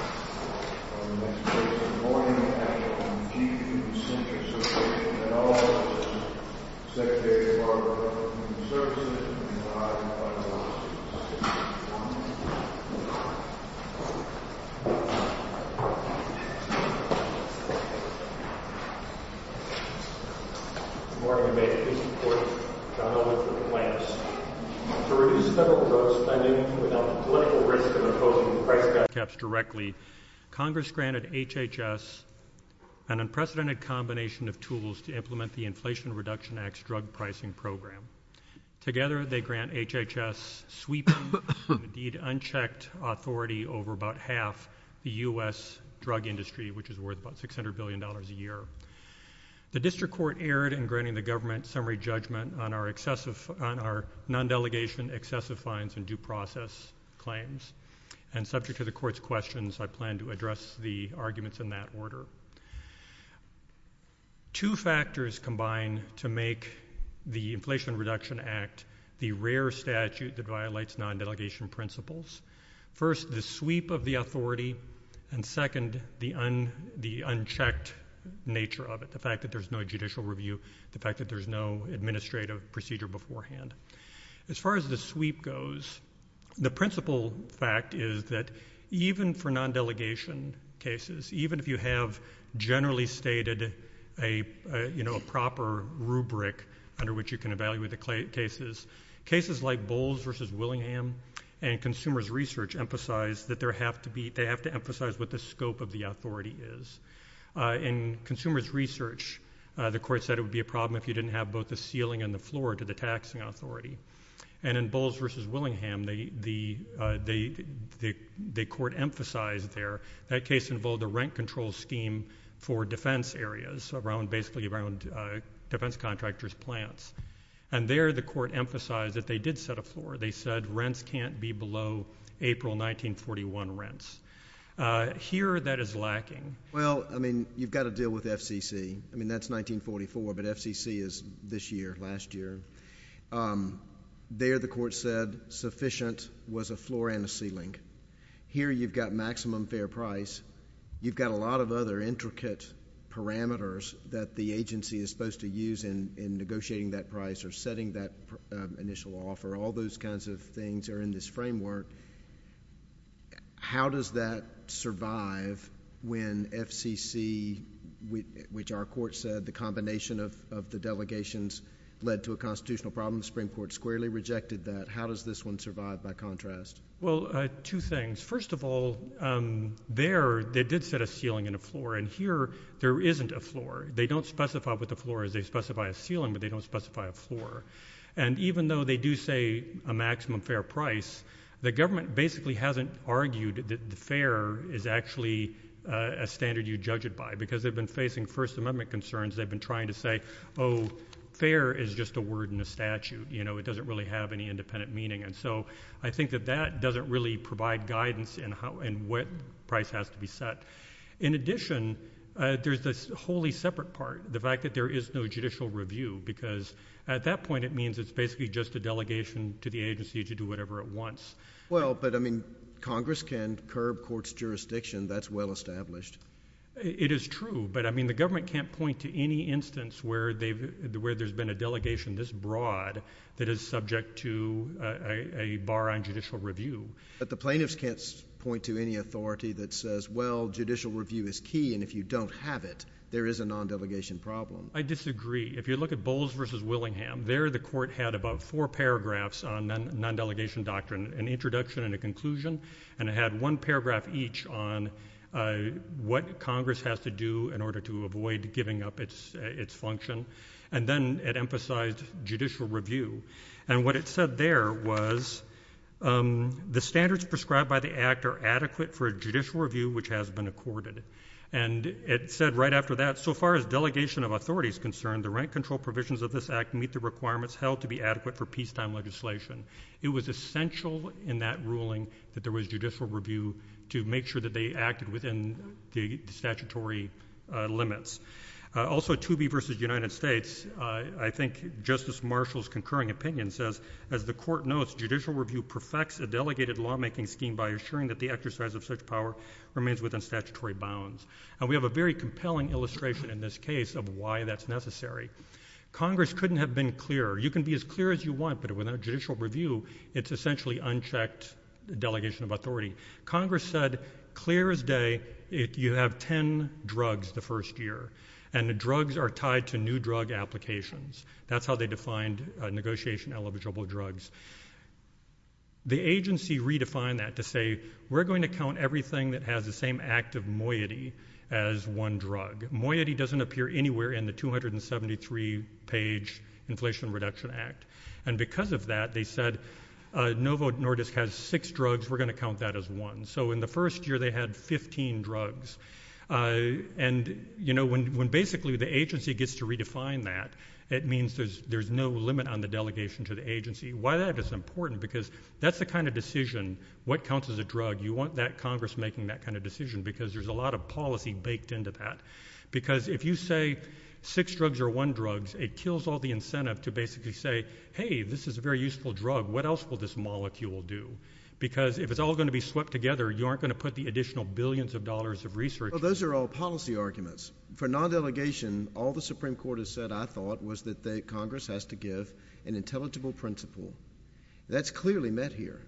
On the next page of the morning packet from the G.E.F. Infusion Center Association and all offices, Secretary of our Department of Human Services, and I and my colleagues. Good morning, and may it please the Court, John Elwood for the Plaintiffs. To reduce federal drug spending without the political risk of imposing price cuts directly, Congress granted HHS an unprecedented combination of tools to implement the Inflation Reduction Act's drug pricing program. Together, they grant HHS sweeping and indeed unchecked authority over about half the U.S. drug industry, which is worth about $600 billion a year. The District Court erred in granting the government summary judgment on our non-delegation excessive fines and due process claims, and subject to the Court's questions, I plan to address the arguments in that order. Two factors combine to make the Inflation Reduction Act the rare statute that violates non-delegation principles. First, the sweep of the authority, and second, the unchecked nature of it, the fact that there's no judicial review, the fact that there's no administrative procedure beforehand. As far as the sweep goes, the principal fact is that even for non-delegation cases, even if you have generally stated a proper rubric under which you can evaluate the cases, cases like Bowles v. Willingham and Consumers Research emphasize that they have to emphasize what the scope of the authority is. In Consumers Research, the Court said it would be a problem if you didn't have both the ceiling and the floor to the taxing authority. In Bowles v. Willingham, the Court emphasized there that case involved a rent control scheme for defense areas, basically around defense contractors' plants. There, the Court emphasized that they did set a floor. They said rents can't be below April 1941 rents. Here, that is lacking. Well, I mean, you've got to deal with FCC. I mean, that's 1944, but FCC is this year, last year. There, the Court said sufficient was a floor and a ceiling. Here, you've got maximum fair price. You've got a lot of other intricate parameters that the agency is supposed to use in negotiating that price or setting that initial offer. All those kinds of things are in this framework. How does that survive when FCC, which our Court said the combination of the delegations led to a constitutional problem? The Supreme Court squarely rejected that. How does this one survive by contrast? Well, two things. First of all, there, they did set a ceiling and a floor. And here, there isn't a floor. They don't specify what the floor is. They specify a ceiling, but they don't specify a floor. And even though they do say a maximum fair price, the government basically hasn't argued that the fair is actually a standard you judge it by. Because they've been facing First Amendment concerns. They've been trying to say, oh, fair is just a word in a statute. You know, it doesn't really have any independent meaning. And so, I think that that doesn't really provide guidance in what price has to be set. In addition, there's this wholly separate part, the fact that there is no judicial review. Because at that point, it means it's basically just a delegation to the agency to do whatever it wants. Well, but, I mean, Congress can curb courts' jurisdiction. That's well established. It is true. But, I mean, the government can't point to any instance where there's been a delegation this broad that is subject to a bar on judicial review. But the plaintiffs can't point to any authority that says, well, judicial review is key, and if you don't have it, there is a non-delegation problem. I disagree. If you look at Bowles v. Willingham, there the court had about four paragraphs on non-delegation doctrine, an introduction and a conclusion. And it had one paragraph each on what Congress has to do in order to avoid giving up its function. And then it emphasized judicial review. And what it said there was the standards prescribed by the Act are adequate for a judicial review which has been accorded. And it said right after that, so far as delegation of authority is concerned, the rent control provisions of this Act meet the requirements held to be adequate for peacetime legislation. It was essential in that ruling that there was judicial review to make sure that they acted within the statutory limits. Also, Toobie v. United States, I think Justice Marshall's concurring opinion says, as the court notes, judicial review perfects a delegated lawmaking scheme by assuring that the exercise of such power remains within statutory bounds. And we have a very compelling illustration in this case of why that's necessary. Congress couldn't have been clearer. You can be as clear as you want, but without judicial review, it's essentially unchecked delegation of authority. Congress said clear as day, you have ten drugs the first year, and the drugs are tied to new drug applications. That's how they defined negotiation eligible drugs. The agency redefined that to say we're going to count everything that has the same active moiety as one drug. Moiety doesn't appear anywhere in the 273-page Inflation Reduction Act. And because of that, they said Novo Nordisk has six drugs. We're going to count that as one. So in the first year, they had 15 drugs. And, you know, when basically the agency gets to redefine that, it means there's no limit on the delegation to the agency. Why that is important, because that's the kind of decision, what counts as a drug, you want that Congress making that kind of decision, because there's a lot of policy baked into that. Because if you say six drugs are one drugs, it kills all the incentive to basically say, hey, this is a very useful drug. What else will this molecule do? Because if it's all going to be swept together, you aren't going to put the additional billions of dollars of research. Those are all policy arguments. For non-delegation, all the Supreme Court has said, I thought, was that Congress has to give an intelligible principle. That's clearly met here.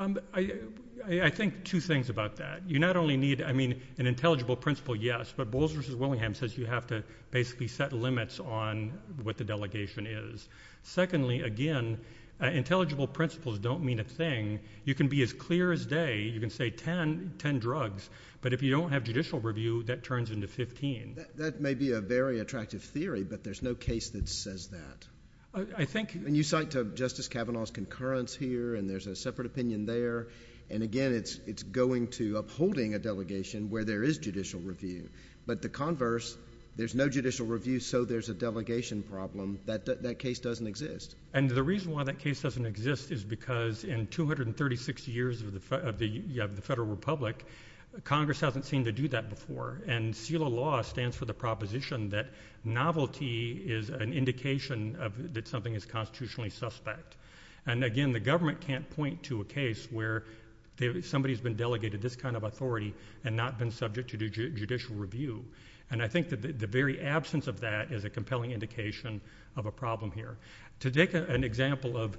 I think two things about that. You not only need, I mean, an intelligible principle, yes, but Bowles v. Willingham says you have to basically set limits on what the delegation is. Secondly, again, intelligible principles don't mean a thing. You can be as clear as day. You can say ten drugs. But if you don't have judicial review, that turns into 15. That may be a very attractive theory, but there's no case that says that. I think... And you cite Justice Kavanaugh's concurrence here, and there's a separate opinion there. And, again, it's going to upholding a delegation where there is judicial review. But the converse, there's no judicial review, so there's a delegation problem. That case doesn't exist. And the reason why that case doesn't exist is because in 236 years of the Federal Republic, Congress hasn't seemed to do that before. And CELA law stands for the proposition that novelty is an indication that something is constitutionally suspect. And, again, the government can't point to a case where somebody has been delegated this kind of authority and not been subject to judicial review. And I think that the very absence of that is a compelling indication of a problem here. To take an example of,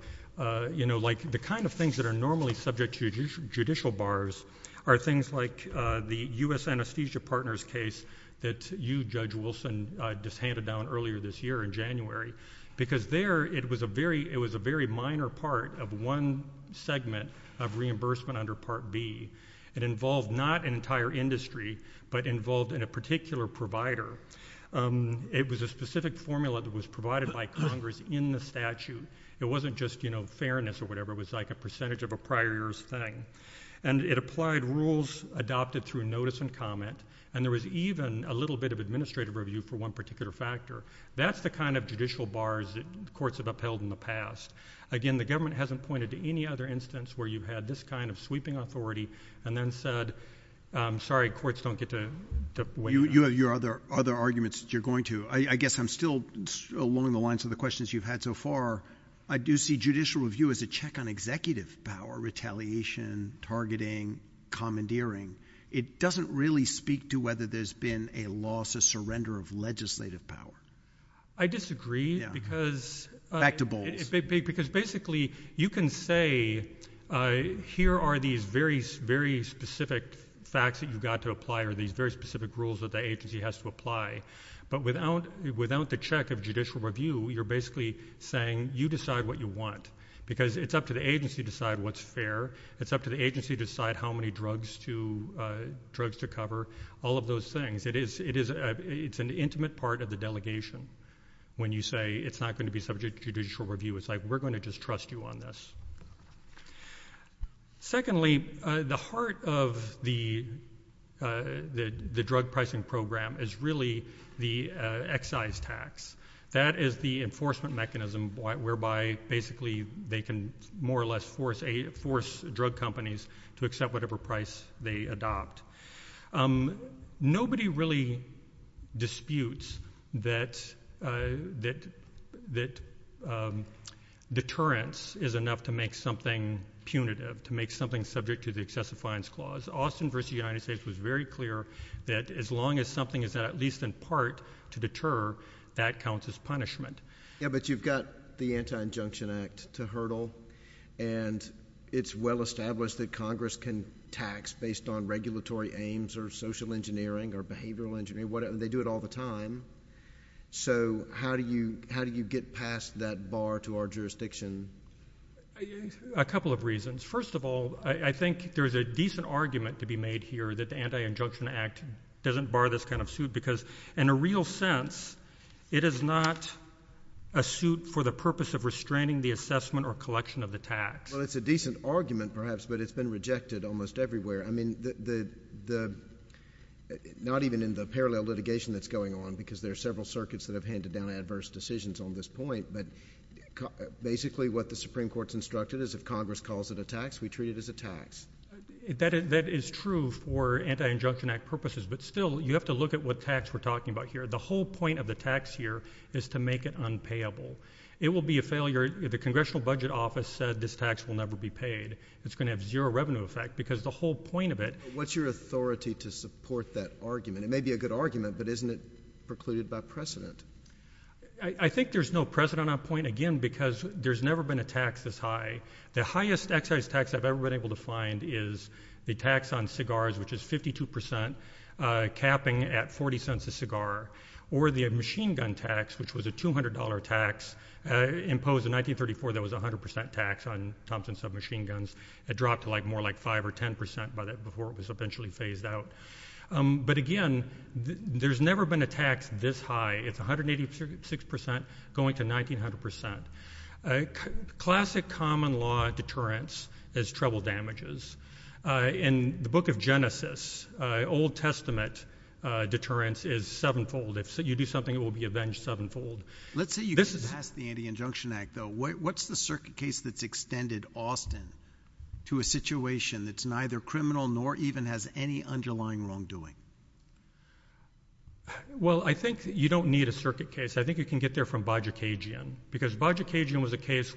you know, like the kind of things that are normally subject to judicial bars are things like the U.S. Anesthesia Partners case that you, Judge Wilson, just handed down earlier this year in January. Because there, it was a very minor part of one segment of reimbursement under Part B. It involved not an entire industry, but involved in a particular provider. It was a specific formula that was provided by Congress in the statute. It wasn't just, you know, fairness or whatever. It was like a percentage of a prior year's thing. And it applied rules adopted through notice and comment. And there was even a little bit of administrative review for one particular factor. That's the kind of judicial bars that courts have upheld in the past. Again, the government hasn't pointed to any other instance where you've had this kind of sweeping authority and then said, I'm sorry, courts don't get to weigh in. You have your other arguments that you're going to. I guess I'm still along the lines of the questions you've had so far. I do see judicial review as a check on executive power, retaliation, targeting, commandeering. It doesn't really speak to whether there's been a loss, a surrender of legislative power. I disagree because basically you can say here are these very specific facts that you've got to apply or these very specific rules that the agency has to apply. But without the check of judicial review, you're basically saying you decide what you want because it's up to the agency to decide what's fair. It's up to the agency to decide how many drugs to cover, all of those things. It's an intimate part of the delegation when you say it's not going to be subject to judicial review. It's like we're going to just trust you on this. Secondly, the heart of the drug pricing program is really the excise tax. That is the enforcement mechanism whereby basically they can more or less force drug companies to accept whatever price they adopt. Nobody really disputes that deterrence is enough to make something punitive, to make something subject to the excessive fines clause. Austin v. United States was very clear that as long as something is at least in part to deter, that counts as punishment. Yeah, but you've got the Anti-Injunction Act to hurdle, and it's well-established that Congress can tax based on regulatory aims or social engineering or behavioral engineering. They do it all the time. So how do you get past that bar to our jurisdiction? A couple of reasons. First of all, I think there's a decent argument to be made here that the Anti-Injunction Act doesn't bar this kind of suit Well, it's a decent argument perhaps, but it's been rejected almost everywhere. I mean, not even in the parallel litigation that's going on, because there are several circuits that have handed down adverse decisions on this point, but basically what the Supreme Court's instructed is if Congress calls it a tax, we treat it as a tax. That is true for Anti-Injunction Act purposes, but still you have to look at what tax we're talking about here. The whole point of the tax here is to make it unpayable. It will be a failure. The Congressional Budget Office said this tax will never be paid. It's going to have zero revenue effect, because the whole point of it What's your authority to support that argument? It may be a good argument, but isn't it precluded by precedent? I think there's no precedent on that point, again, because there's never been a tax this high. The highest excise tax I've ever been able to find is the tax on cigars, which is 52 percent, capping at 40 cents a cigar, or the machine gun tax, which was a $200 tax imposed in 1934 that was a 100 percent tax on Thompson submachine guns. It dropped to more like 5 or 10 percent before it was eventually phased out. But again, there's never been a tax this high. It's 186 percent going to 1,900 percent. Classic common law deterrence is trouble damages. In the book of Genesis, Old Testament deterrence is sevenfold. If you do something, it will be avenged sevenfold. Let's say you get past the Anti-Injunction Act, though. What's the circuit case that's extended often to a situation that's neither criminal nor even has any underlying wrongdoing? Well, I think you don't need a circuit case. I think you can get there from Bajikagian, because Bajikagian was a case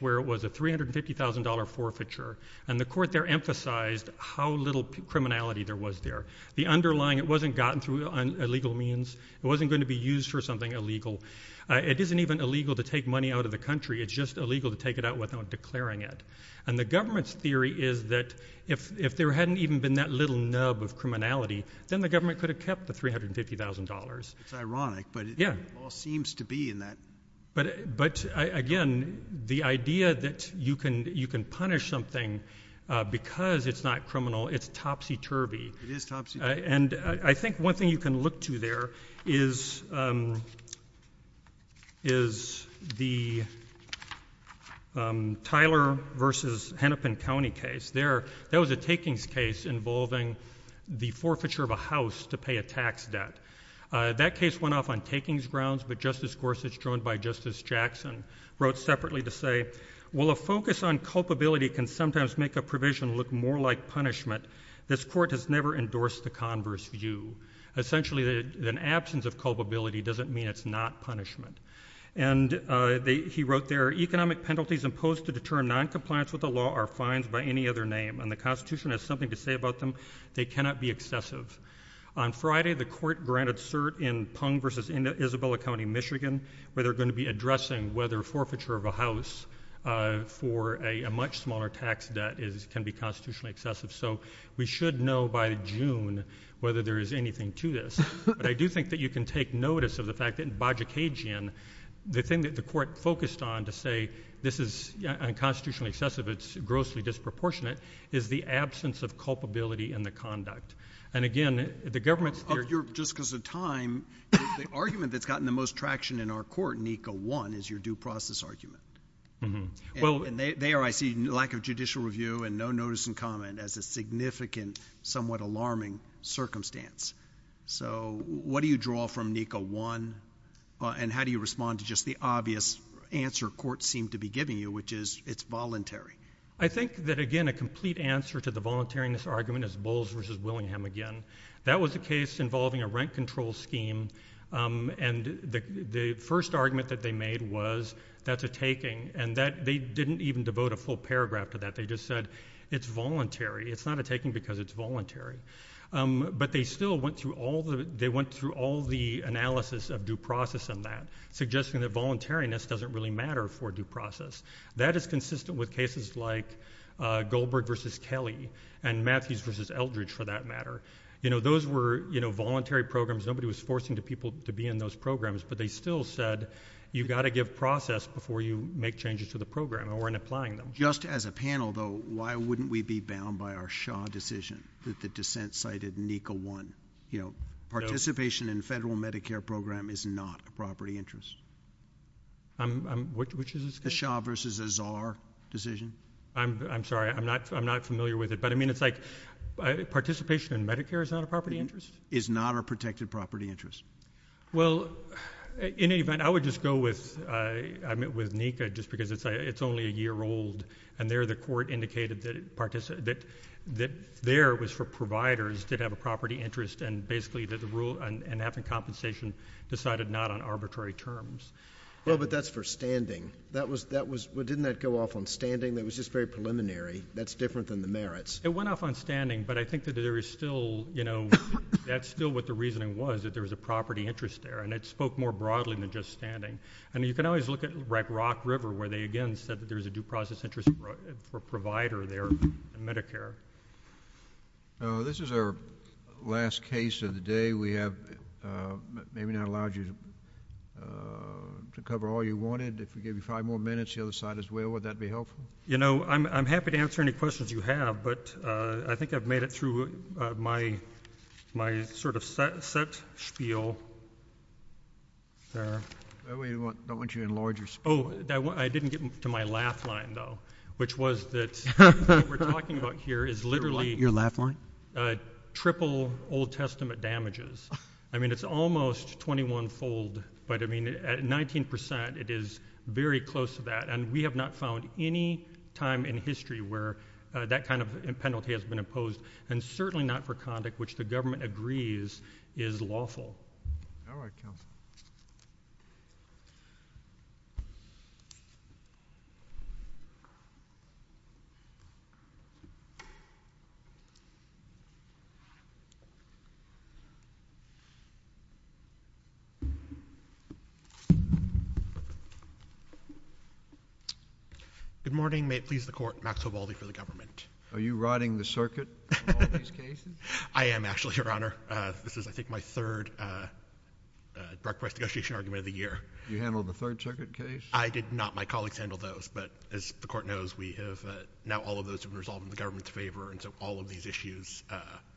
and the court there emphasized how little criminality there was there. It wasn't gotten through illegal means. It wasn't going to be used for something illegal. It isn't even illegal to take money out of the country. It's just illegal to take it out without declaring it. And the government's theory is that if there hadn't even been that little nub of criminality, then the government could have kept the $350,000. It's ironic, but it all seems to be in that. But, again, the idea that you can punish something because it's not criminal, it's topsy-turvy. It is topsy-turvy. And I think one thing you can look to there is the Tyler v. Hennepin County case. That was a takings case involving the forfeiture of a house to pay a tax debt. That case went off on takings grounds, but Justice Gorsuch, joined by Justice Jackson, wrote separately to say, Well, a focus on culpability can sometimes make a provision look more like punishment. This court has never endorsed the converse view. Essentially, an absence of culpability doesn't mean it's not punishment. And he wrote there, Economic penalties imposed to deter noncompliance with the law are fines by any other name, and the Constitution has something to say about them. They cannot be excessive. On Friday, the court granted cert in Pung v. Isabella County, Michigan, where they're going to be addressing whether forfeiture of a house for a much smaller tax debt can be constitutionally excessive. So we should know by June whether there is anything to this. But I do think that you can take notice of the fact that in Bajikagian, the thing that the court focused on to say this is constitutionally excessive, it's grossly disproportionate, is the absence of culpability in the conduct. And, again, the government's theory of Just because of time, the argument that's gotten the most traction in our court, NECA 1, is your due process argument. And there I see lack of judicial review and no notice and comment as a significant, somewhat alarming circumstance. So what do you draw from NECA 1, and how do you respond to just the obvious answer courts seem to be giving you, which is it's voluntary? I think that, again, a complete answer to the voluntariness argument is Bowles v. Willingham again. That was a case involving a rent control scheme, and the first argument that they made was that's a taking. And they didn't even devote a full paragraph to that. They just said it's voluntary. It's not a taking because it's voluntary. But they still went through all the analysis of due process in that, suggesting that voluntariness doesn't really matter for due process. That is consistent with cases like Goldberg v. Kelly and Matthews v. Eldridge, for that matter. Those were voluntary programs. Nobody was forcing people to be in those programs. But they still said you've got to give process before you make changes to the program or in applying them. Just as a panel, though, why wouldn't we be bound by our Shaw decision that the dissent cited NECA 1? Participation in a federal Medicare program is not a property interest. Which is this case? The Shaw v. Azar decision. I'm sorry. I'm not familiar with it. But, I mean, it's like participation in Medicare is not a property interest? Is not a protected property interest. Well, in any event, I would just go with NECA just because it's only a year old, and there the court indicated that there was for providers that have a property interest and basically that the rule and having compensation decided not on arbitrary terms. Well, but that's for standing. Didn't that go off on standing? That was just very preliminary. That's different than the merits. It went off on standing, but I think that there is still, you know, that's still what the reasoning was that there was a property interest there, and it spoke more broadly than just standing. I mean, you can always look at Rock River where they, again, said that there was a due process interest for a provider there in Medicare. This is our last case of the day. We have maybe not allowed you to cover all you wanted. If we give you five more minutes, the other side as well, would that be helpful? You know, I'm happy to answer any questions you have, but I think I've made it through my sort of set spiel there. I don't want you to enlarge your spiel. Oh, I didn't get to my laugh line, though, which was that what we're talking about here is literally triple Old Testament damages. I mean, it's almost 21-fold, but, I mean, at 19%, it is very close to that, and we have not found any time in history where that kind of penalty has been imposed, and certainly not for conduct which the government agrees is lawful. All right, counsel. Good morning. May it please the Court, Max Hovaldi for the government. Are you riding the circuit in all these cases? I am, actually, Your Honor. This is, I think, my third drug price negotiation argument of the year. You handled the third circuit case? I did not. My colleagues handled those, but as the Court knows, we have now all of those have been resolved in the government's favor, and so all of these issues...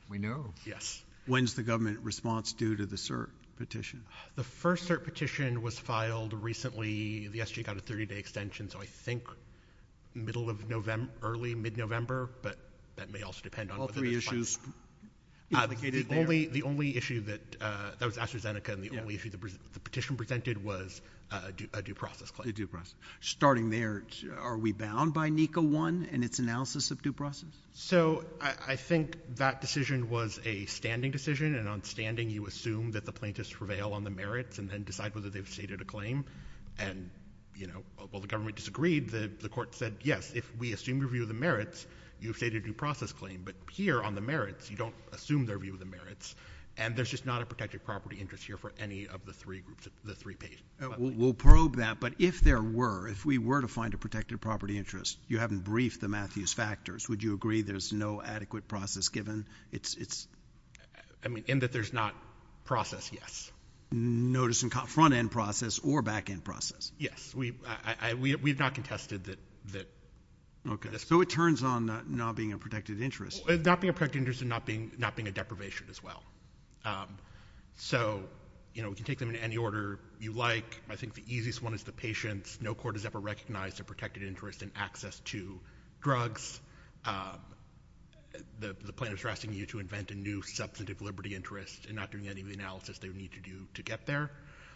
We know. Yes. When's the government response due to the cert petition? The first cert petition was filed recently. The SGA got a 30-day extension, so I think middle of November, early, mid-November, but that may also depend on... All three issues. The only issue that, that was AstraZeneca, and the only issue the petition presented was a due process claim. A due process. Starting there, are we bound by NECA 1 and its analysis of due process? So, I think that decision was a standing decision, and on standing you assume that the plaintiffs prevail on the merits and then decide whether they've stated a claim, and, you know, while the government disagreed, the Court said, yes, if we assume review of the merits, you've stated a due process claim. But here on the merits, you don't assume their view of the merits, and there's just not a protected property interest here for any of the three groups, the three patients. We'll probe that, but if there were, if we were to find a protected property interest, you haven't briefed the Matthews factors, would you agree there's no adequate process given? It's... I mean, in that there's not process, yes. Notice of front-end process or back-end process. Yes. We've not contested that... Okay. So it turns on not being a protected interest. Not being a protected interest and not being a deprivation as well. So, you know, we can take them in any order you like. I think the easiest one is the patients. No court has ever recognized a protected interest in access to drugs. The plaintiffs are asking you to invent a new substantive liberty interest and not doing any of the analysis they would need to do to get there.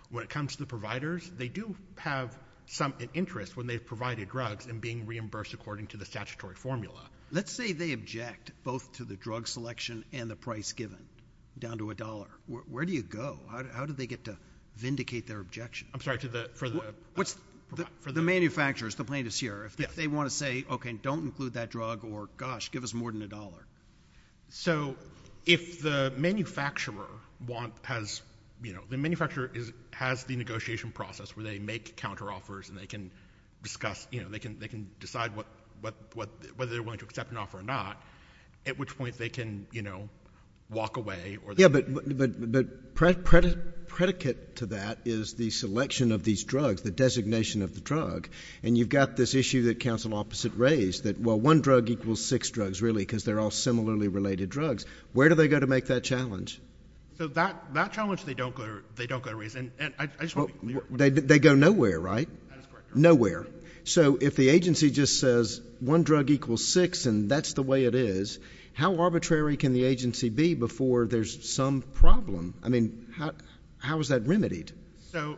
When it comes to the providers, they do have some interest when they've provided drugs and being reimbursed according to the statutory formula. Let's say they object both to the drug selection and the price given, down to a dollar. Where do you go? How do they get to vindicate their objection? I'm sorry, to the... The manufacturers, the plaintiffs here, if they want to say, okay, don't include that drug, or gosh, give us more than a dollar. So if the manufacturer has the negotiation process where they make counteroffers and they can discuss, they can decide whether they're willing to accept an offer or not, at which point they can walk away. Yeah, but predicate to that is the selection of these drugs, the designation of the drug. And you've got this issue that counsel opposite raised, that, well, one drug equals six drugs, really, because they're all similarly related drugs. Where do they go to make that challenge? So that challenge they don't go to raise. They go nowhere, right? Nowhere. So if the agency just says one drug equals six and that's the way it is, how arbitrary can the agency be before there's some problem? I mean, how is that remedied? So,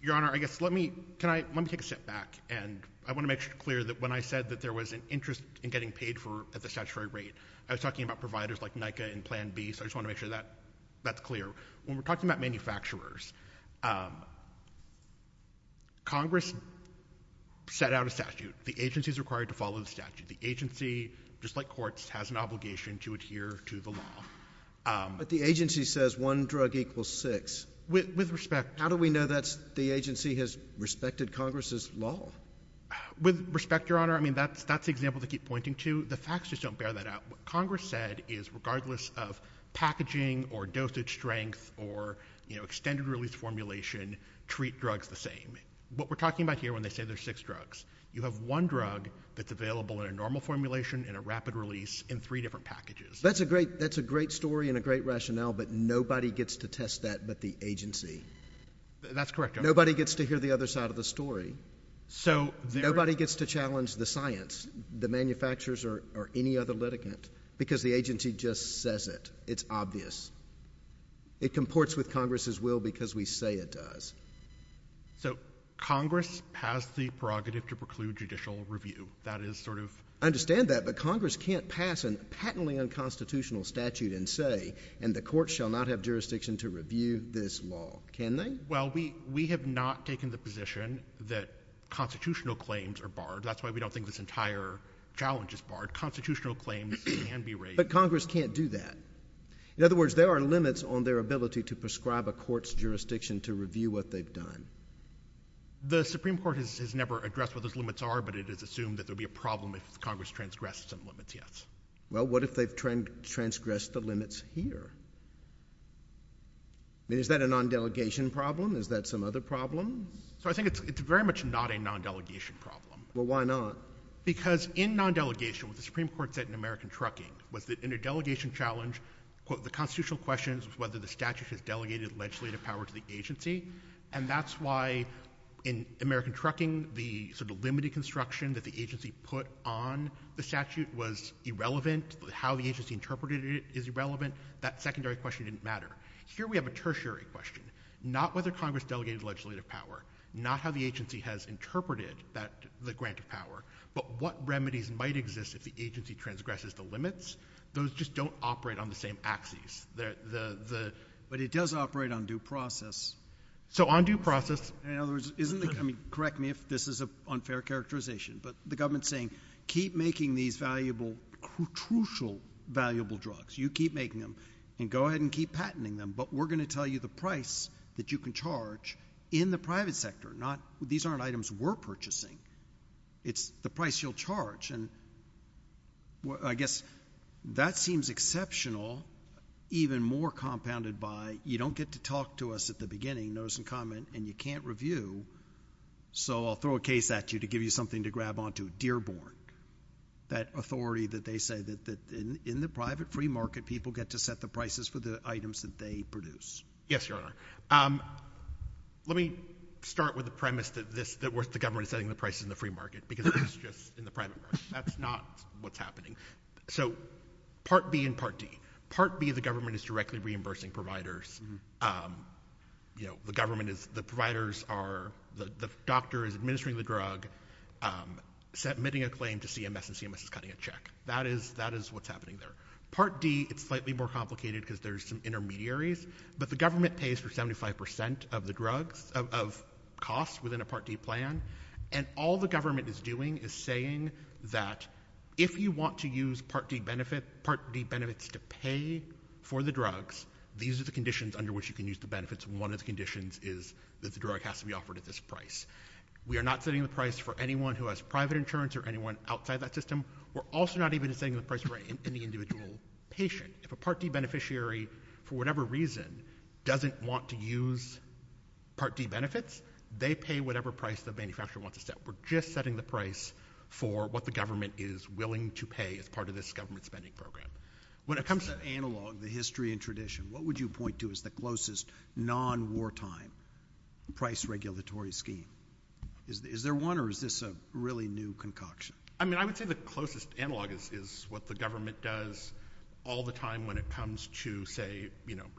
Your Honor, I guess let me take a step back, and I want to make it clear that when I said that there was an interest in getting paid at the statutory rate, I was talking about providers like NICA and Plan B, so I just want to make sure that's clear. When we're talking about manufacturers, Congress set out a statute. The agency is required to follow the statute. The agency, just like courts, has an obligation to adhere to the law. But the agency says one drug equals six. With respect. How do we know that the agency has respected Congress's law? With respect, Your Honor, I mean, that's the example to keep pointing to. The facts just don't bear that out. What Congress said is regardless of packaging or dosage strength or extended release formulation, treat drugs the same. What we're talking about here when they say there's six drugs, you have one drug that's available in a normal formulation and a rapid release in three different packages. That's a great story and a great rationale, but nobody gets to test that but the agency. That's correct. Nobody gets to hear the other side of the story. Nobody gets to challenge the science, the manufacturers, or any other litigant because the agency just says it. It's obvious. It comports with Congress's will because we say it does. So Congress has the prerogative to preclude judicial review. That is sort of. I understand that, but Congress can't pass a patently unconstitutional statute and say, and the court shall not have jurisdiction to review this law. Can they? Well, we have not taken the position that constitutional claims are barred. That's why we don't think this entire challenge is barred. Constitutional claims can be raised. But Congress can't do that. In other words, there are limits on their ability to prescribe a court's jurisdiction to review what they've done. The Supreme Court has never addressed what those limits are, but it is assumed that there would be a problem if Congress transgressed some limits, yes. Well, what if they've transgressed the limits here? I mean, is that a non-delegation problem? Is that some other problem? I think it's very much not a non-delegation problem. Well, why not? Because in non-delegation, what the Supreme Court said in American Trucking was that in a delegation challenge, quote, the constitutional question is whether the statute has delegated legislative power to the agency, and that's why in American Trucking the sort of limited construction that the agency put on the statute was irrelevant. How the agency interpreted it is irrelevant. That secondary question didn't matter. Here we have a tertiary question, not whether Congress delegated legislative power, not how the agency has interpreted the grant of power, but what remedies might exist if the agency transgresses the limits. Those just don't operate on the same axes. But it does operate on due process. So on due process. In other words, correct me if this is an unfair characterization, but the government's saying keep making these valuable, crucial valuable drugs. You keep making them, and go ahead and keep patenting them, but we're going to tell you the price that you can charge in the private sector. These aren't items we're purchasing. It's the price you'll charge. And I guess that seems exceptional, even more compounded by you don't get to talk to us at the beginning, notice and comment, and you can't review, so I'll throw a case at you to give you something to grab onto. Dearborn, that authority that they say that in the private free market, people get to set the prices for the items that they produce. Yes, Your Honor. Let me start with the premise that the government is setting the prices in the free market, because that's just in the private market. That's not what's happening. So Part B and Part D. Part B, the government is directly reimbursing providers. The government is, the providers are, the doctor is administering the drug, submitting a claim to CMS, and CMS is cutting a check. That is what's happening there. Part D, it's slightly more complicated because there's some intermediaries, but the government pays for 75% of the drugs, of costs within a Part D plan, and all the government is doing is saying that if you want to use Part D benefits to pay for the drugs, these are the conditions under which you can use the benefits, and one of the conditions is that the drug has to be offered at this price. We are not setting the price for anyone who has private insurance or anyone outside that system. We're also not even setting the price for any individual patient. If a Part D beneficiary, for whatever reason, doesn't want to use Part D benefits, they pay whatever price the manufacturer wants to set. We're just setting the price for what the government is willing to pay as part of this government spending program. When it comes to analog, the history and tradition, what would you point to as the closest non-wartime price regulatory scheme? Is there one, or is this a really new concoction? I mean, I would say the closest analog is what the government does all the time when it comes to, say,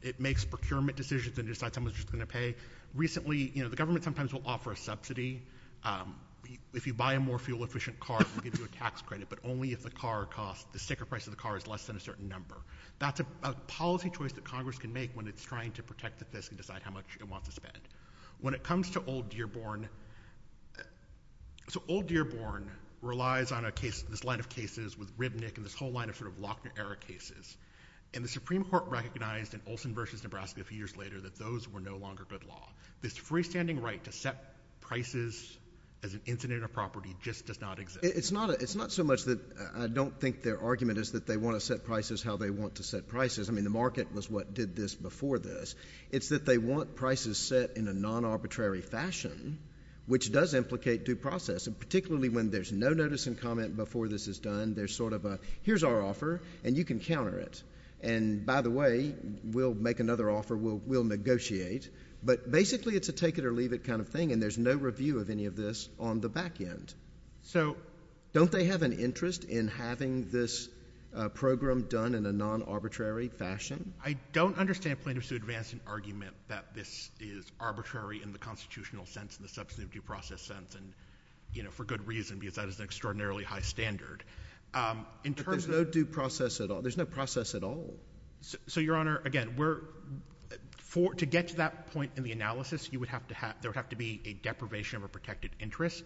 it makes procurement decisions and decides how much it's going to pay. Recently, the government sometimes will offer a subsidy. If you buy a more fuel-efficient car, it will give you a tax credit, but only if the sticker price of the car is less than a certain number. That's a policy choice that Congress can make when it's trying to protect the FISC and decide how much it wants to spend. When it comes to Old Dearborn, Old Dearborn relies on this line of cases with Ribnick and this whole line of Lochner-era cases. The Supreme Court recognized in Olson v. Nebraska a few years later that those were no longer good law. This freestanding right to set prices as an incident of property just does not exist. It's not so much that I don't think their argument is that they want to set prices how they want to set prices. I mean, the market was what did this before this. It's that they want prices set in a non-arbitrary fashion, which does implicate due process, particularly when there's no notice and comment before this is done. There's sort of a here's our offer, and you can counter it. And by the way, we'll make another offer. We'll negotiate. But basically it's a take it or leave it kind of thing, and there's no review of any of this on the back end. So don't they have an interest in having this program done in a non-arbitrary fashion? I don't understand plaintiffs who advance an argument that this is arbitrary in the constitutional sense, in the substantive due process sense, and for good reason because that is an extraordinarily high standard. But there's no due process at all. There's no process at all. So, Your Honor, again, to get to that point in the analysis, there would have to be a deprivation of a protected interest,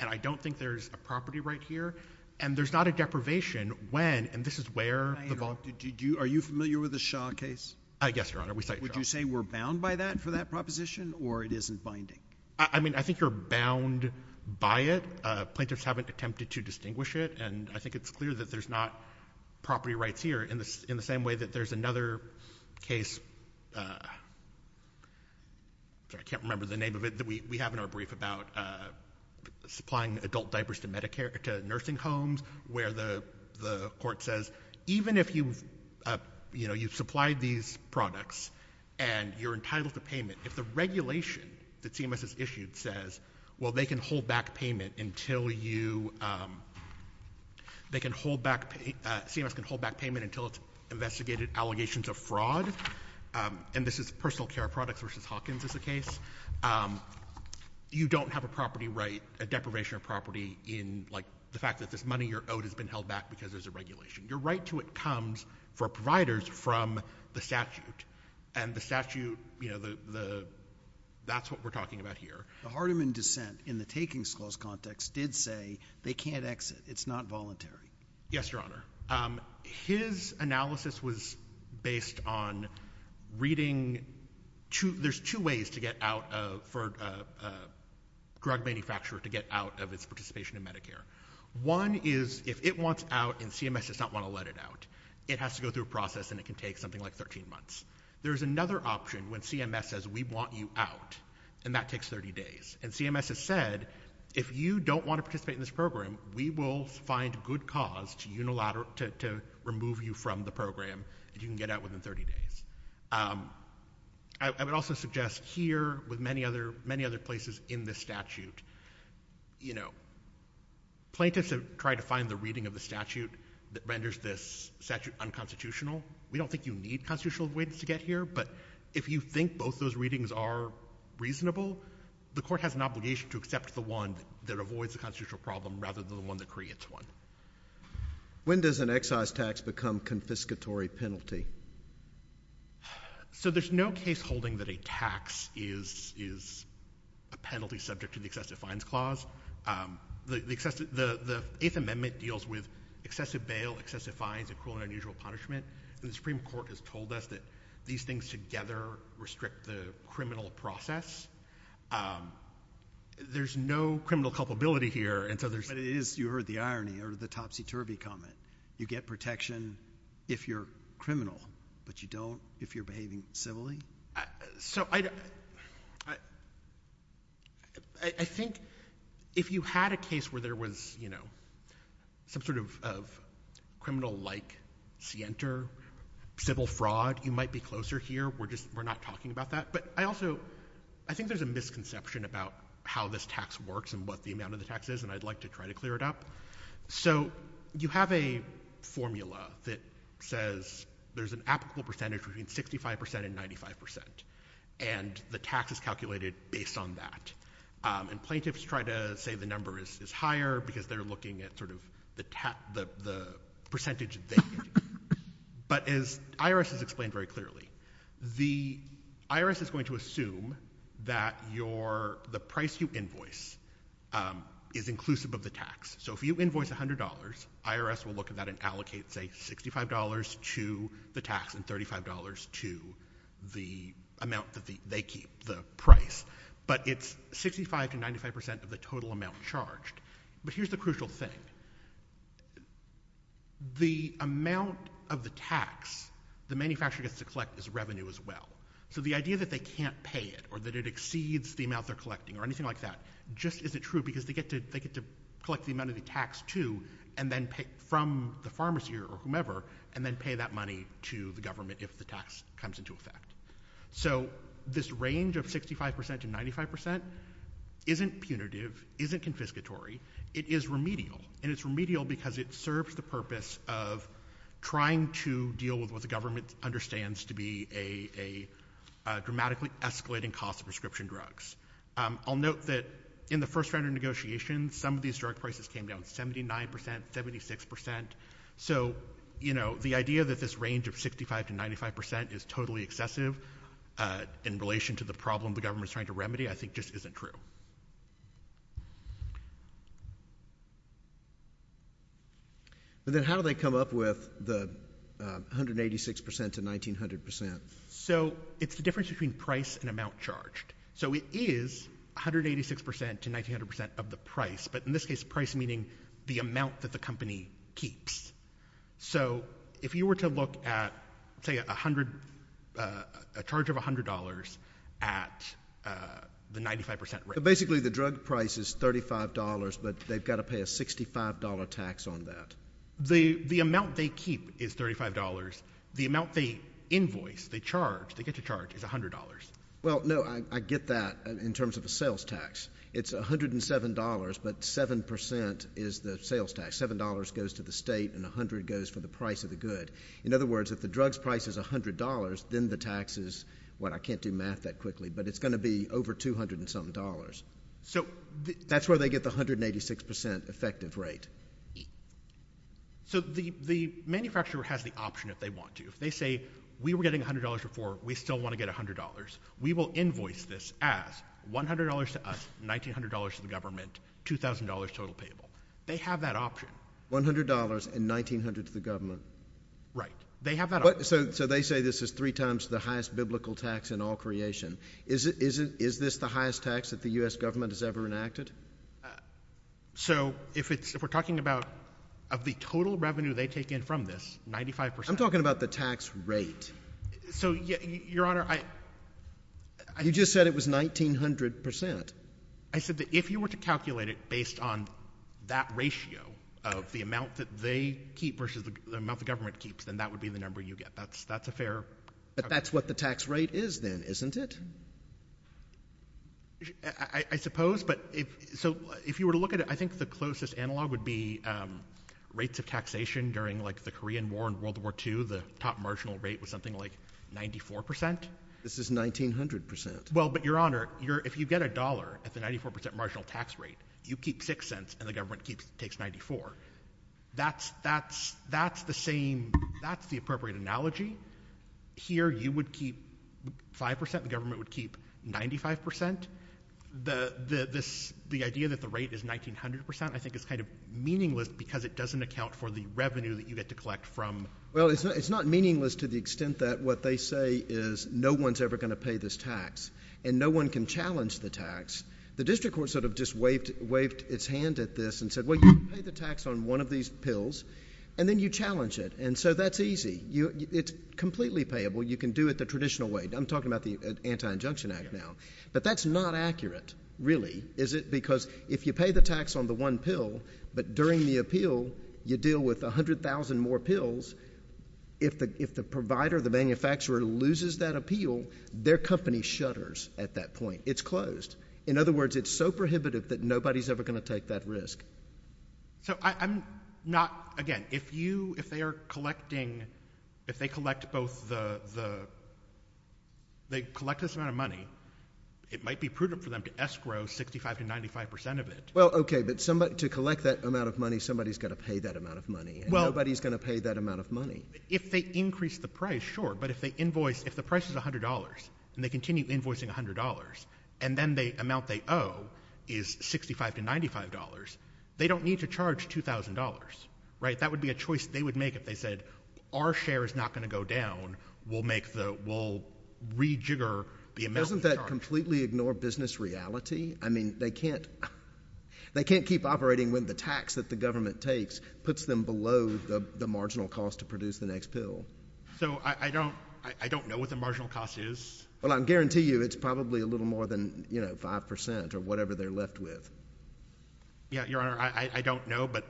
and I don't think there's a property right here. And there's not a deprivation when, and this is where the ball— May I interrupt you? Are you familiar with the Shah case? Yes, Your Honor. Would you say we're bound by that for that proposition, or it isn't binding? I mean, I think you're bound by it. Plaintiffs haven't attempted to distinguish it, and I think it's clear that there's not property rights here, in the same way that there's another case— I can't remember the name of it— that we have in our brief about supplying adult diapers to nursing homes where the court says, even if you've supplied these products and you're entitled to payment, if the regulation that CMS has issued says, well, they can hold back payment until you— they can hold back—CMS can hold back payment until it's investigated allegations of fraud, and this is Personal Care Products v. Hawkins is the case, you don't have a property right, a deprivation of property, in, like, the fact that this money you're owed has been held back because there's a regulation. Your right to it comes for providers from the statute, and the statute, you know, the— that's what we're talking about here. The Hardiman dissent, in the takings clause context, did say they can't exit, it's not voluntary. Yes, Your Honor. His analysis was based on reading— there's two ways to get out of— for a drug manufacturer to get out of its participation in Medicare. One is, if it wants out and CMS does not want to let it out, it has to go through a process, and it can take something like 13 months. There's another option when CMS says, we want you out, and that takes 30 days. And CMS has said, if you don't want to participate in this program, we will find good cause to unilateral— to remove you from the program, and you can get out within 30 days. I would also suggest here, with many other places in this statute, you know, plaintiffs have tried to find the reading of the statute that renders this statute unconstitutional. We don't think you need constitutional avoidance to get here, but if you think both those readings are reasonable, the court has an obligation to accept the one that avoids the constitutional problem rather than the one that creates one. When does an excise tax become confiscatory penalty? So there's no case holding that a tax is a penalty subject to the excessive fines clause. The Eighth Amendment deals with excessive bail, excessive fines, and cruel and unusual punishment, and the Supreme Court has told us that these things together restrict the criminal process. There's no criminal culpability here, and so there's— But it is—you heard the irony, heard the topsy-turvy comment. You get protection if you're criminal, but you don't if you're behaving civilly. So I think if you had a case where there was, you know, some sort of criminal-like scienter, civil fraud, you might be closer here. We're just—we're not talking about that. But I also—I think there's a misconception about how this tax works and what the amount of the tax is, and I'd like to try to clear it up. So you have a formula that says there's an applicable percentage between 65% and 95%, and the tax is calculated based on that. And plaintiffs try to say the number is higher because they're looking at sort of the percentage they get. But as IRS has explained very clearly, the IRS is going to assume that your— the price you invoice is inclusive of the tax. So if you invoice $100, IRS will look at that and allocate, say, $65 to the tax and $35 to the amount that they keep, the price. But it's 65% to 95% of the total amount charged. But here's the crucial thing. The amount of the tax the manufacturer gets to collect is revenue as well. So the idea that they can't pay it or that it exceeds the amount they're collecting or anything like that just isn't true because they get to collect the amount of the tax, too, from the pharmacy or whomever, and then pay that money to the government if the tax comes into effect. So this range of 65% to 95% isn't punitive, isn't confiscatory. It is remedial. And it's remedial because it serves the purpose of trying to deal with what the government understands to be a dramatically escalating cost of prescription drugs. I'll note that in the first round of negotiations, some of these drug prices came down 79%, 76%. So, you know, the idea that this range of 65% to 95% is totally excessive in relation to the problem the government's trying to remedy, I think just isn't true. But then how do they come up with the 186% to 1,900%? So it's the difference between price and amount charged. So it is 186% to 1,900% of the price, but in this case, price meaning the amount that the company keeps. So if you were to look at, say, a charge of $100 at the 95% rate... So basically the drug price is $35, but they've got to pay a $65 tax on that. The amount they keep is $35. The amount they invoice, they charge, they get to charge is $100. Well, no, I get that in terms of a sales tax. It's $107, but 7% is the sales tax. $7 goes to the state, and $100 goes for the price of the good. In other words, if the drug's price is $100, then the tax is, well, I can't do math that quickly, but it's going to be over $200-something. So that's where they get the 186% effective rate. So the manufacturer has the option if they want to. If they say, we were getting $100 before, we still want to get $100. We will invoice this as $100 to us, $1,900 to the government, $2,000 total payable. They have that option. $100 and $1,900 to the government. Right. They have that option. So they say this is three times the highest biblical tax in all creation. Is this the highest tax that the U.S. government has ever enacted? So if we're talking about of the total revenue they take in from this, 95%... I'm talking about the tax rate. So, Your Honor, I... You just said it was 1,900%. I said that if you were to calculate it based on that ratio of the amount that they keep versus the amount the government keeps, then that would be the number you get. That's a fair... But that's what the tax rate is then, isn't it? I suppose, but if... So if you were to look at it, I think the closest analog would be rates of taxation during, like, the Korean War and World War II. The top marginal rate was something like 94%. This is 1,900%. Well, but, Your Honor, if you get a dollar at the 94% marginal tax rate, you keep 6 cents and the government takes 94. That's the same... That's the appropriate analogy. Here, you would keep 5%. The government would keep 95%. The idea that the rate is 1,900% I think is kind of meaningless because it doesn't account for the revenue that you get to collect from... Well, it's not meaningless to the extent that what they say is no one's ever going to pay this tax and no one can challenge the tax. The district court sort of just waved its hand at this and said, well, you can pay the tax on one of these pills, and then you challenge it, and so that's easy. It's completely payable. You can do it the traditional way. I'm talking about the Anti-Injunction Act now. But that's not accurate, really, is it? Because if you pay the tax on the one pill, but during the appeal, you deal with 100,000 more pills, if the provider, the manufacturer, loses that appeal, their company shutters at that point. It's closed. In other words, it's so prohibitive that nobody's ever going to take that risk. So I'm not... Again, if they are collecting... If they collect both the... They collect this amount of money, it might be prudent for them to escrow 65% to 95% of it. Well, OK, but to collect that amount of money, somebody's got to pay that amount of money, and nobody's going to pay that amount of money. If they increase the price, sure, but if they invoice... If the price is $100 and they continue invoicing $100 and then the amount they owe is $65 to $95, they don't need to charge $2,000, right? That would be a choice they would make if they said, our share is not going to go down, we'll make the... we'll rejigger the amount we charge. Doesn't that completely ignore business reality? I mean, they can't... They can't keep operating when the tax that the government takes puts them below the marginal cost to produce the next pill. So I don't... I don't know what the marginal cost is. Well, I can guarantee you it's probably a little more than, you know, 5% or whatever they're left with. Yeah, Your Honor, I don't know, but,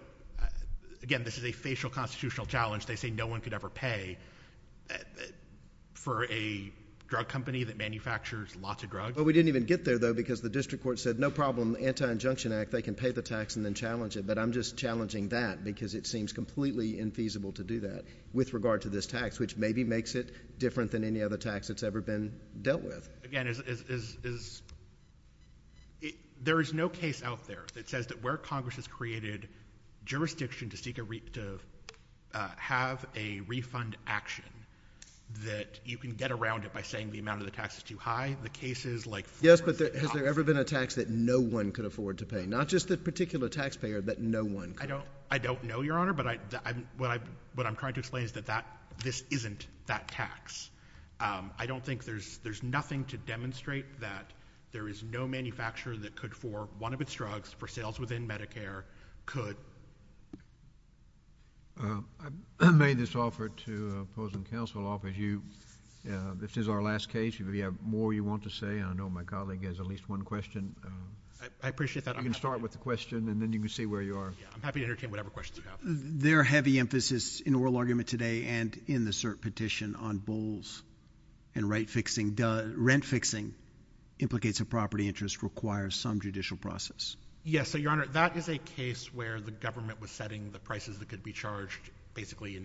again, this is a facial constitutional challenge. They say no one could ever pay for a drug company that manufactures lots of drugs. But we didn't even get there, though, because the district court said, no problem, Anti-Injunction Act, they can pay the tax and then challenge it, but I'm just challenging that because it seems completely infeasible to do that with regard to this tax, which maybe makes it different than any other tax that's ever been dealt with. Again, there is no case out there that says that where Congress has created jurisdiction to seek a... to have a refund action that you can get around it by saying the amount of the tax is too high. The cases like... Yes, but has there ever been a tax that no one could afford to pay? Not just the particular taxpayer, but no one. I don't know, Your Honor, but what I'm trying to explain is that this isn't that tax. I don't think there's nothing to demonstrate that there is no manufacturer that could, for one of its drugs, for sales within Medicare, could... I made this offer to opposing counsel, but you... this is our last case. If you have more you want to say, I know my colleague has at least one question. I appreciate that. You can start with the question, and then you can see where you are. I'm happy to entertain whatever questions you have. There are heavy emphases in oral argument today and in the cert petition on bulls and right-fixing. Rent-fixing implicates a property interest requires some judicial process. Yes, so, Your Honor, that is a case where the government was setting the prices that could be charged basically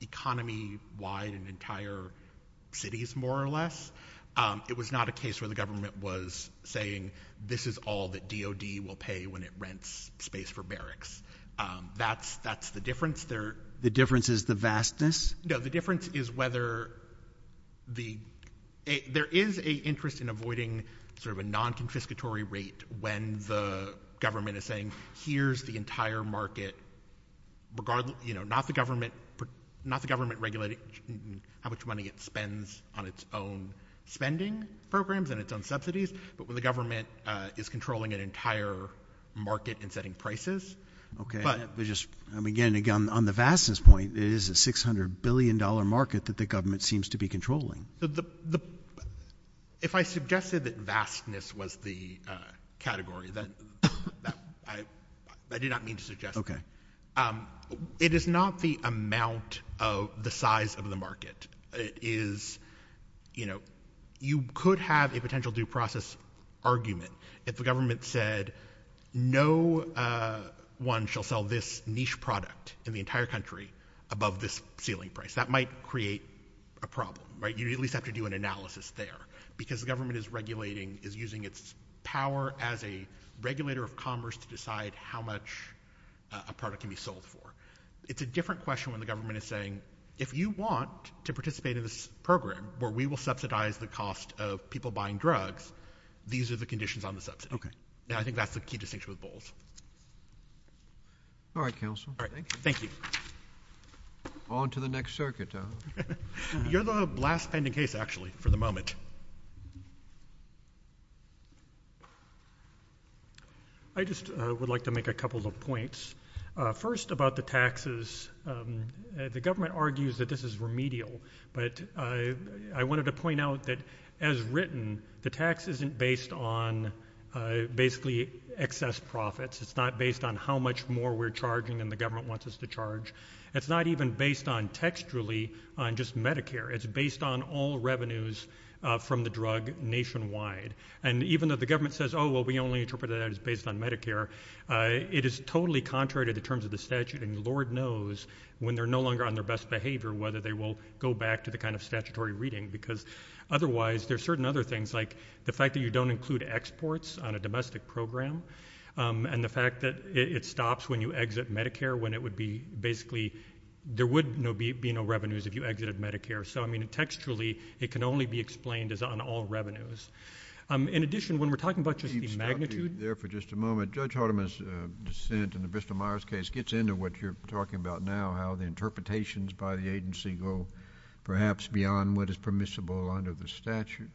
economy-wide in entire cities, more or less. It was not a case where the government was saying this is all that DOD will pay when it rents space for barracks. That's the difference. The difference is the vastness? No, the difference is whether the... There is an interest in avoiding sort of a non-confiscatory rate when the government is saying here's the entire market regardless... You know, not the government regulating how much money it spends on its own spending programs and its own subsidies, but when the government is controlling an entire market and setting prices. Again, on the vastness point, it is a $600 billion market that the government seems to be controlling. If I suggested that vastness was the category, I did not mean to suggest that. It is not the amount of the size of the market. It is, you know, you could have a potential due process argument if the government said no one shall sell this niche product in the entire country above this ceiling price. That might create a problem, right? You at least have to do an analysis there because the government is regulating, is using its power as a regulator of commerce to decide how much a product can be sold for. It's a different question when the government is saying if you want to participate in this program where we will subsidize the cost of people buying drugs, these are the conditions on the subsidy. I think that's the key distinction with Bowles. All right, counsel. Thank you. Thank you. On to the next circuit. You're the last pending case, actually, for the moment. I just would like to make a couple of points. First, about the taxes, the government argues that this is remedial, but I wanted to point out that, as written, the tax isn't based on basically excess profits. It's not based on how much more we're charging than the government wants us to charge. It's not even based on textually on just Medicare. It's based on all revenues from the drug nationwide. And even though the government says, oh, well, we only interpret that as based on Medicare, it is totally contrary to the terms of the statute, and Lord knows when they're no longer on their best behavior whether they will go back to the kind of statutory reading, because otherwise there are certain other things, like the fact that you don't include exports on a domestic program, and the fact that it stops when you exit Medicare when it would be basically... There would be no revenues if you exited Medicare. So, I mean, textually it can only be explained as on all revenues. In addition, when we're talking about just the magnitude... Let me stop you there for just a moment. Judge Hardiman's dissent in the Bristol-Myers case gets into what you're talking about now, how the interpretations by the agency go perhaps beyond what is permissible under the statute.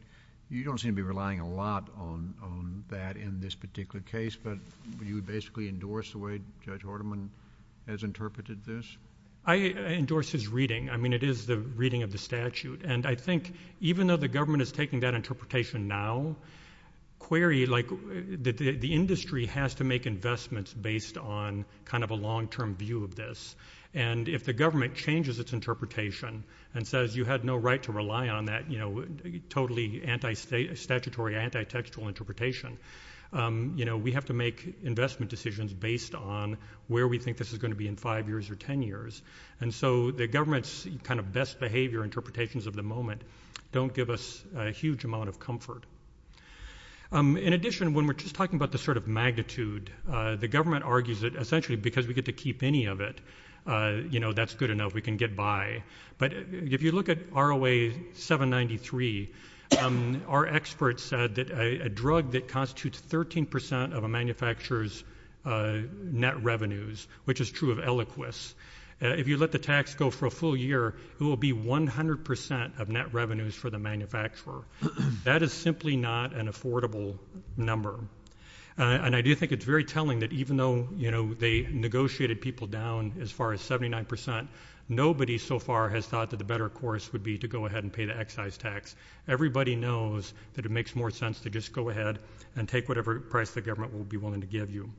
You don't seem to be relying a lot on that in this particular case, but you would basically endorse the way Judge Hardiman has interpreted this? I endorse his reading. I mean, it is the reading of the statute, and I think even though the government is taking that interpretation now, query, like, the industry has to make investments based on kind of a long-term view of this, and if the government changes its interpretation and says you had no right to rely on that, you know, totally anti-statutory, anti-textual interpretation, you know, we have to make investment decisions based on where we think this is going to be in 5 years or 10 years. And so the government's kind of best behavior interpretations of the moment don't give us a huge amount of comfort. In addition, when we're just talking about the sort of magnitude, the government argues that essentially because we get to keep any of it, you know, that's good enough. We can get by. But if you look at ROA 793, our experts said that a drug that constitutes 13% of a manufacturer's net revenues, which is true of Eliquis, if you let the tax go for a full year, it will be 100% of net revenues for the manufacturer. That is simply not an affordable number. And I do think it's very telling that even though, you know, they negotiated people down as far as 79%, nobody so far has thought that the better course would be to go ahead and pay the excise tax. Everybody knows that it makes more sense to just go ahead and take whatever price the government will be willing to give you.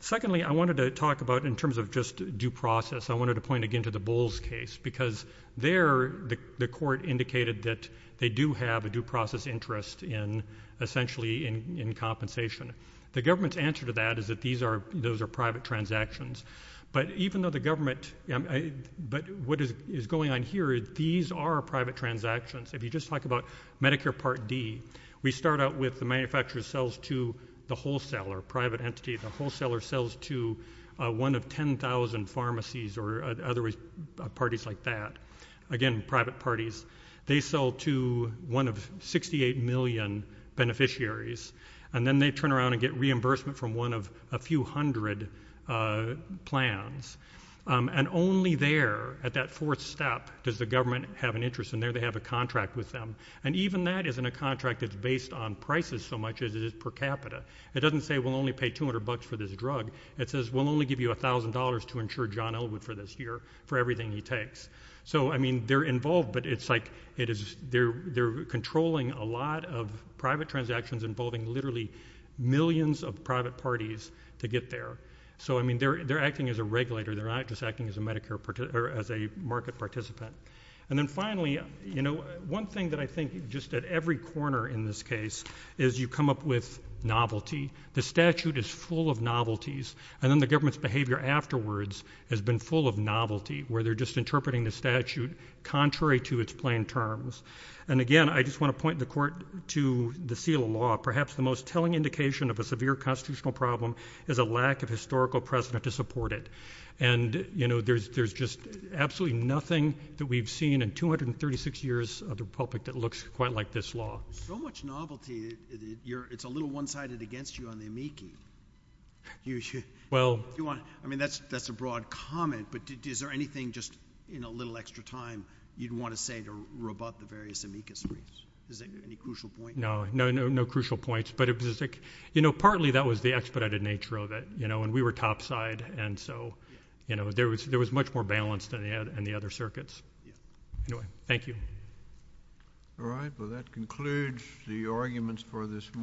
Secondly, I wanted to talk about in terms of just due process. I wanted to point again to the Bowles case because there the court indicated that they do have a due process interest in essentially in compensation. The government's answer to that is that those are private transactions. But even though the government... But what is going on here, these are private transactions. If you just talk about Medicare Part D, we start out with the manufacturer sells to the wholesaler, private entity. The wholesaler sells to one of 10,000 pharmacies or other parties like that. Again, private parties. They sell to one of 68 million beneficiaries. And then they turn around and get reimbursement from one of a few hundred plans. And only there, at that fourth step, does the government have an interest in there. They have a contract with them. And even that isn't a contract that's based on prices so much as it is per capita. It doesn't say we'll only pay 200 bucks for this drug. It says we'll only give you $1,000 to insure John Elwood for this year for everything he takes. So, I mean, they're involved, but it's like... They're controlling a lot of private transactions involving literally millions of private parties to get there. So, I mean, they're acting as a regulator. They're not just acting as a market participant. And then finally, you know, one thing that I think just at every corner in this case is you come up with novelty. The statute is full of novelties. And then the government's behavior afterwards has been full of novelty, where they're just interpreting the statute contrary to its plain terms. And again, I just want to point the court to the seal of law. Perhaps the most telling indication of a severe constitutional problem is a lack of historical precedent to support it. And, you know, there's just absolutely nothing that we've seen in 236 years of the Republic that looks quite like this law. So much novelty. It's a little one-sided against you on the amici. Well... I mean, that's a broad comment, but is there anything just in a little extra time you'd want to say about the various amicus briefs? Is there any crucial point? No, no crucial points, but it was... You know, partly that was the expedited nature of it. You know, and we were topside, and so, you know, there was much more balance than they had in the other circuits. Anyway, thank you. All right, well, that concludes the arguments for this morning.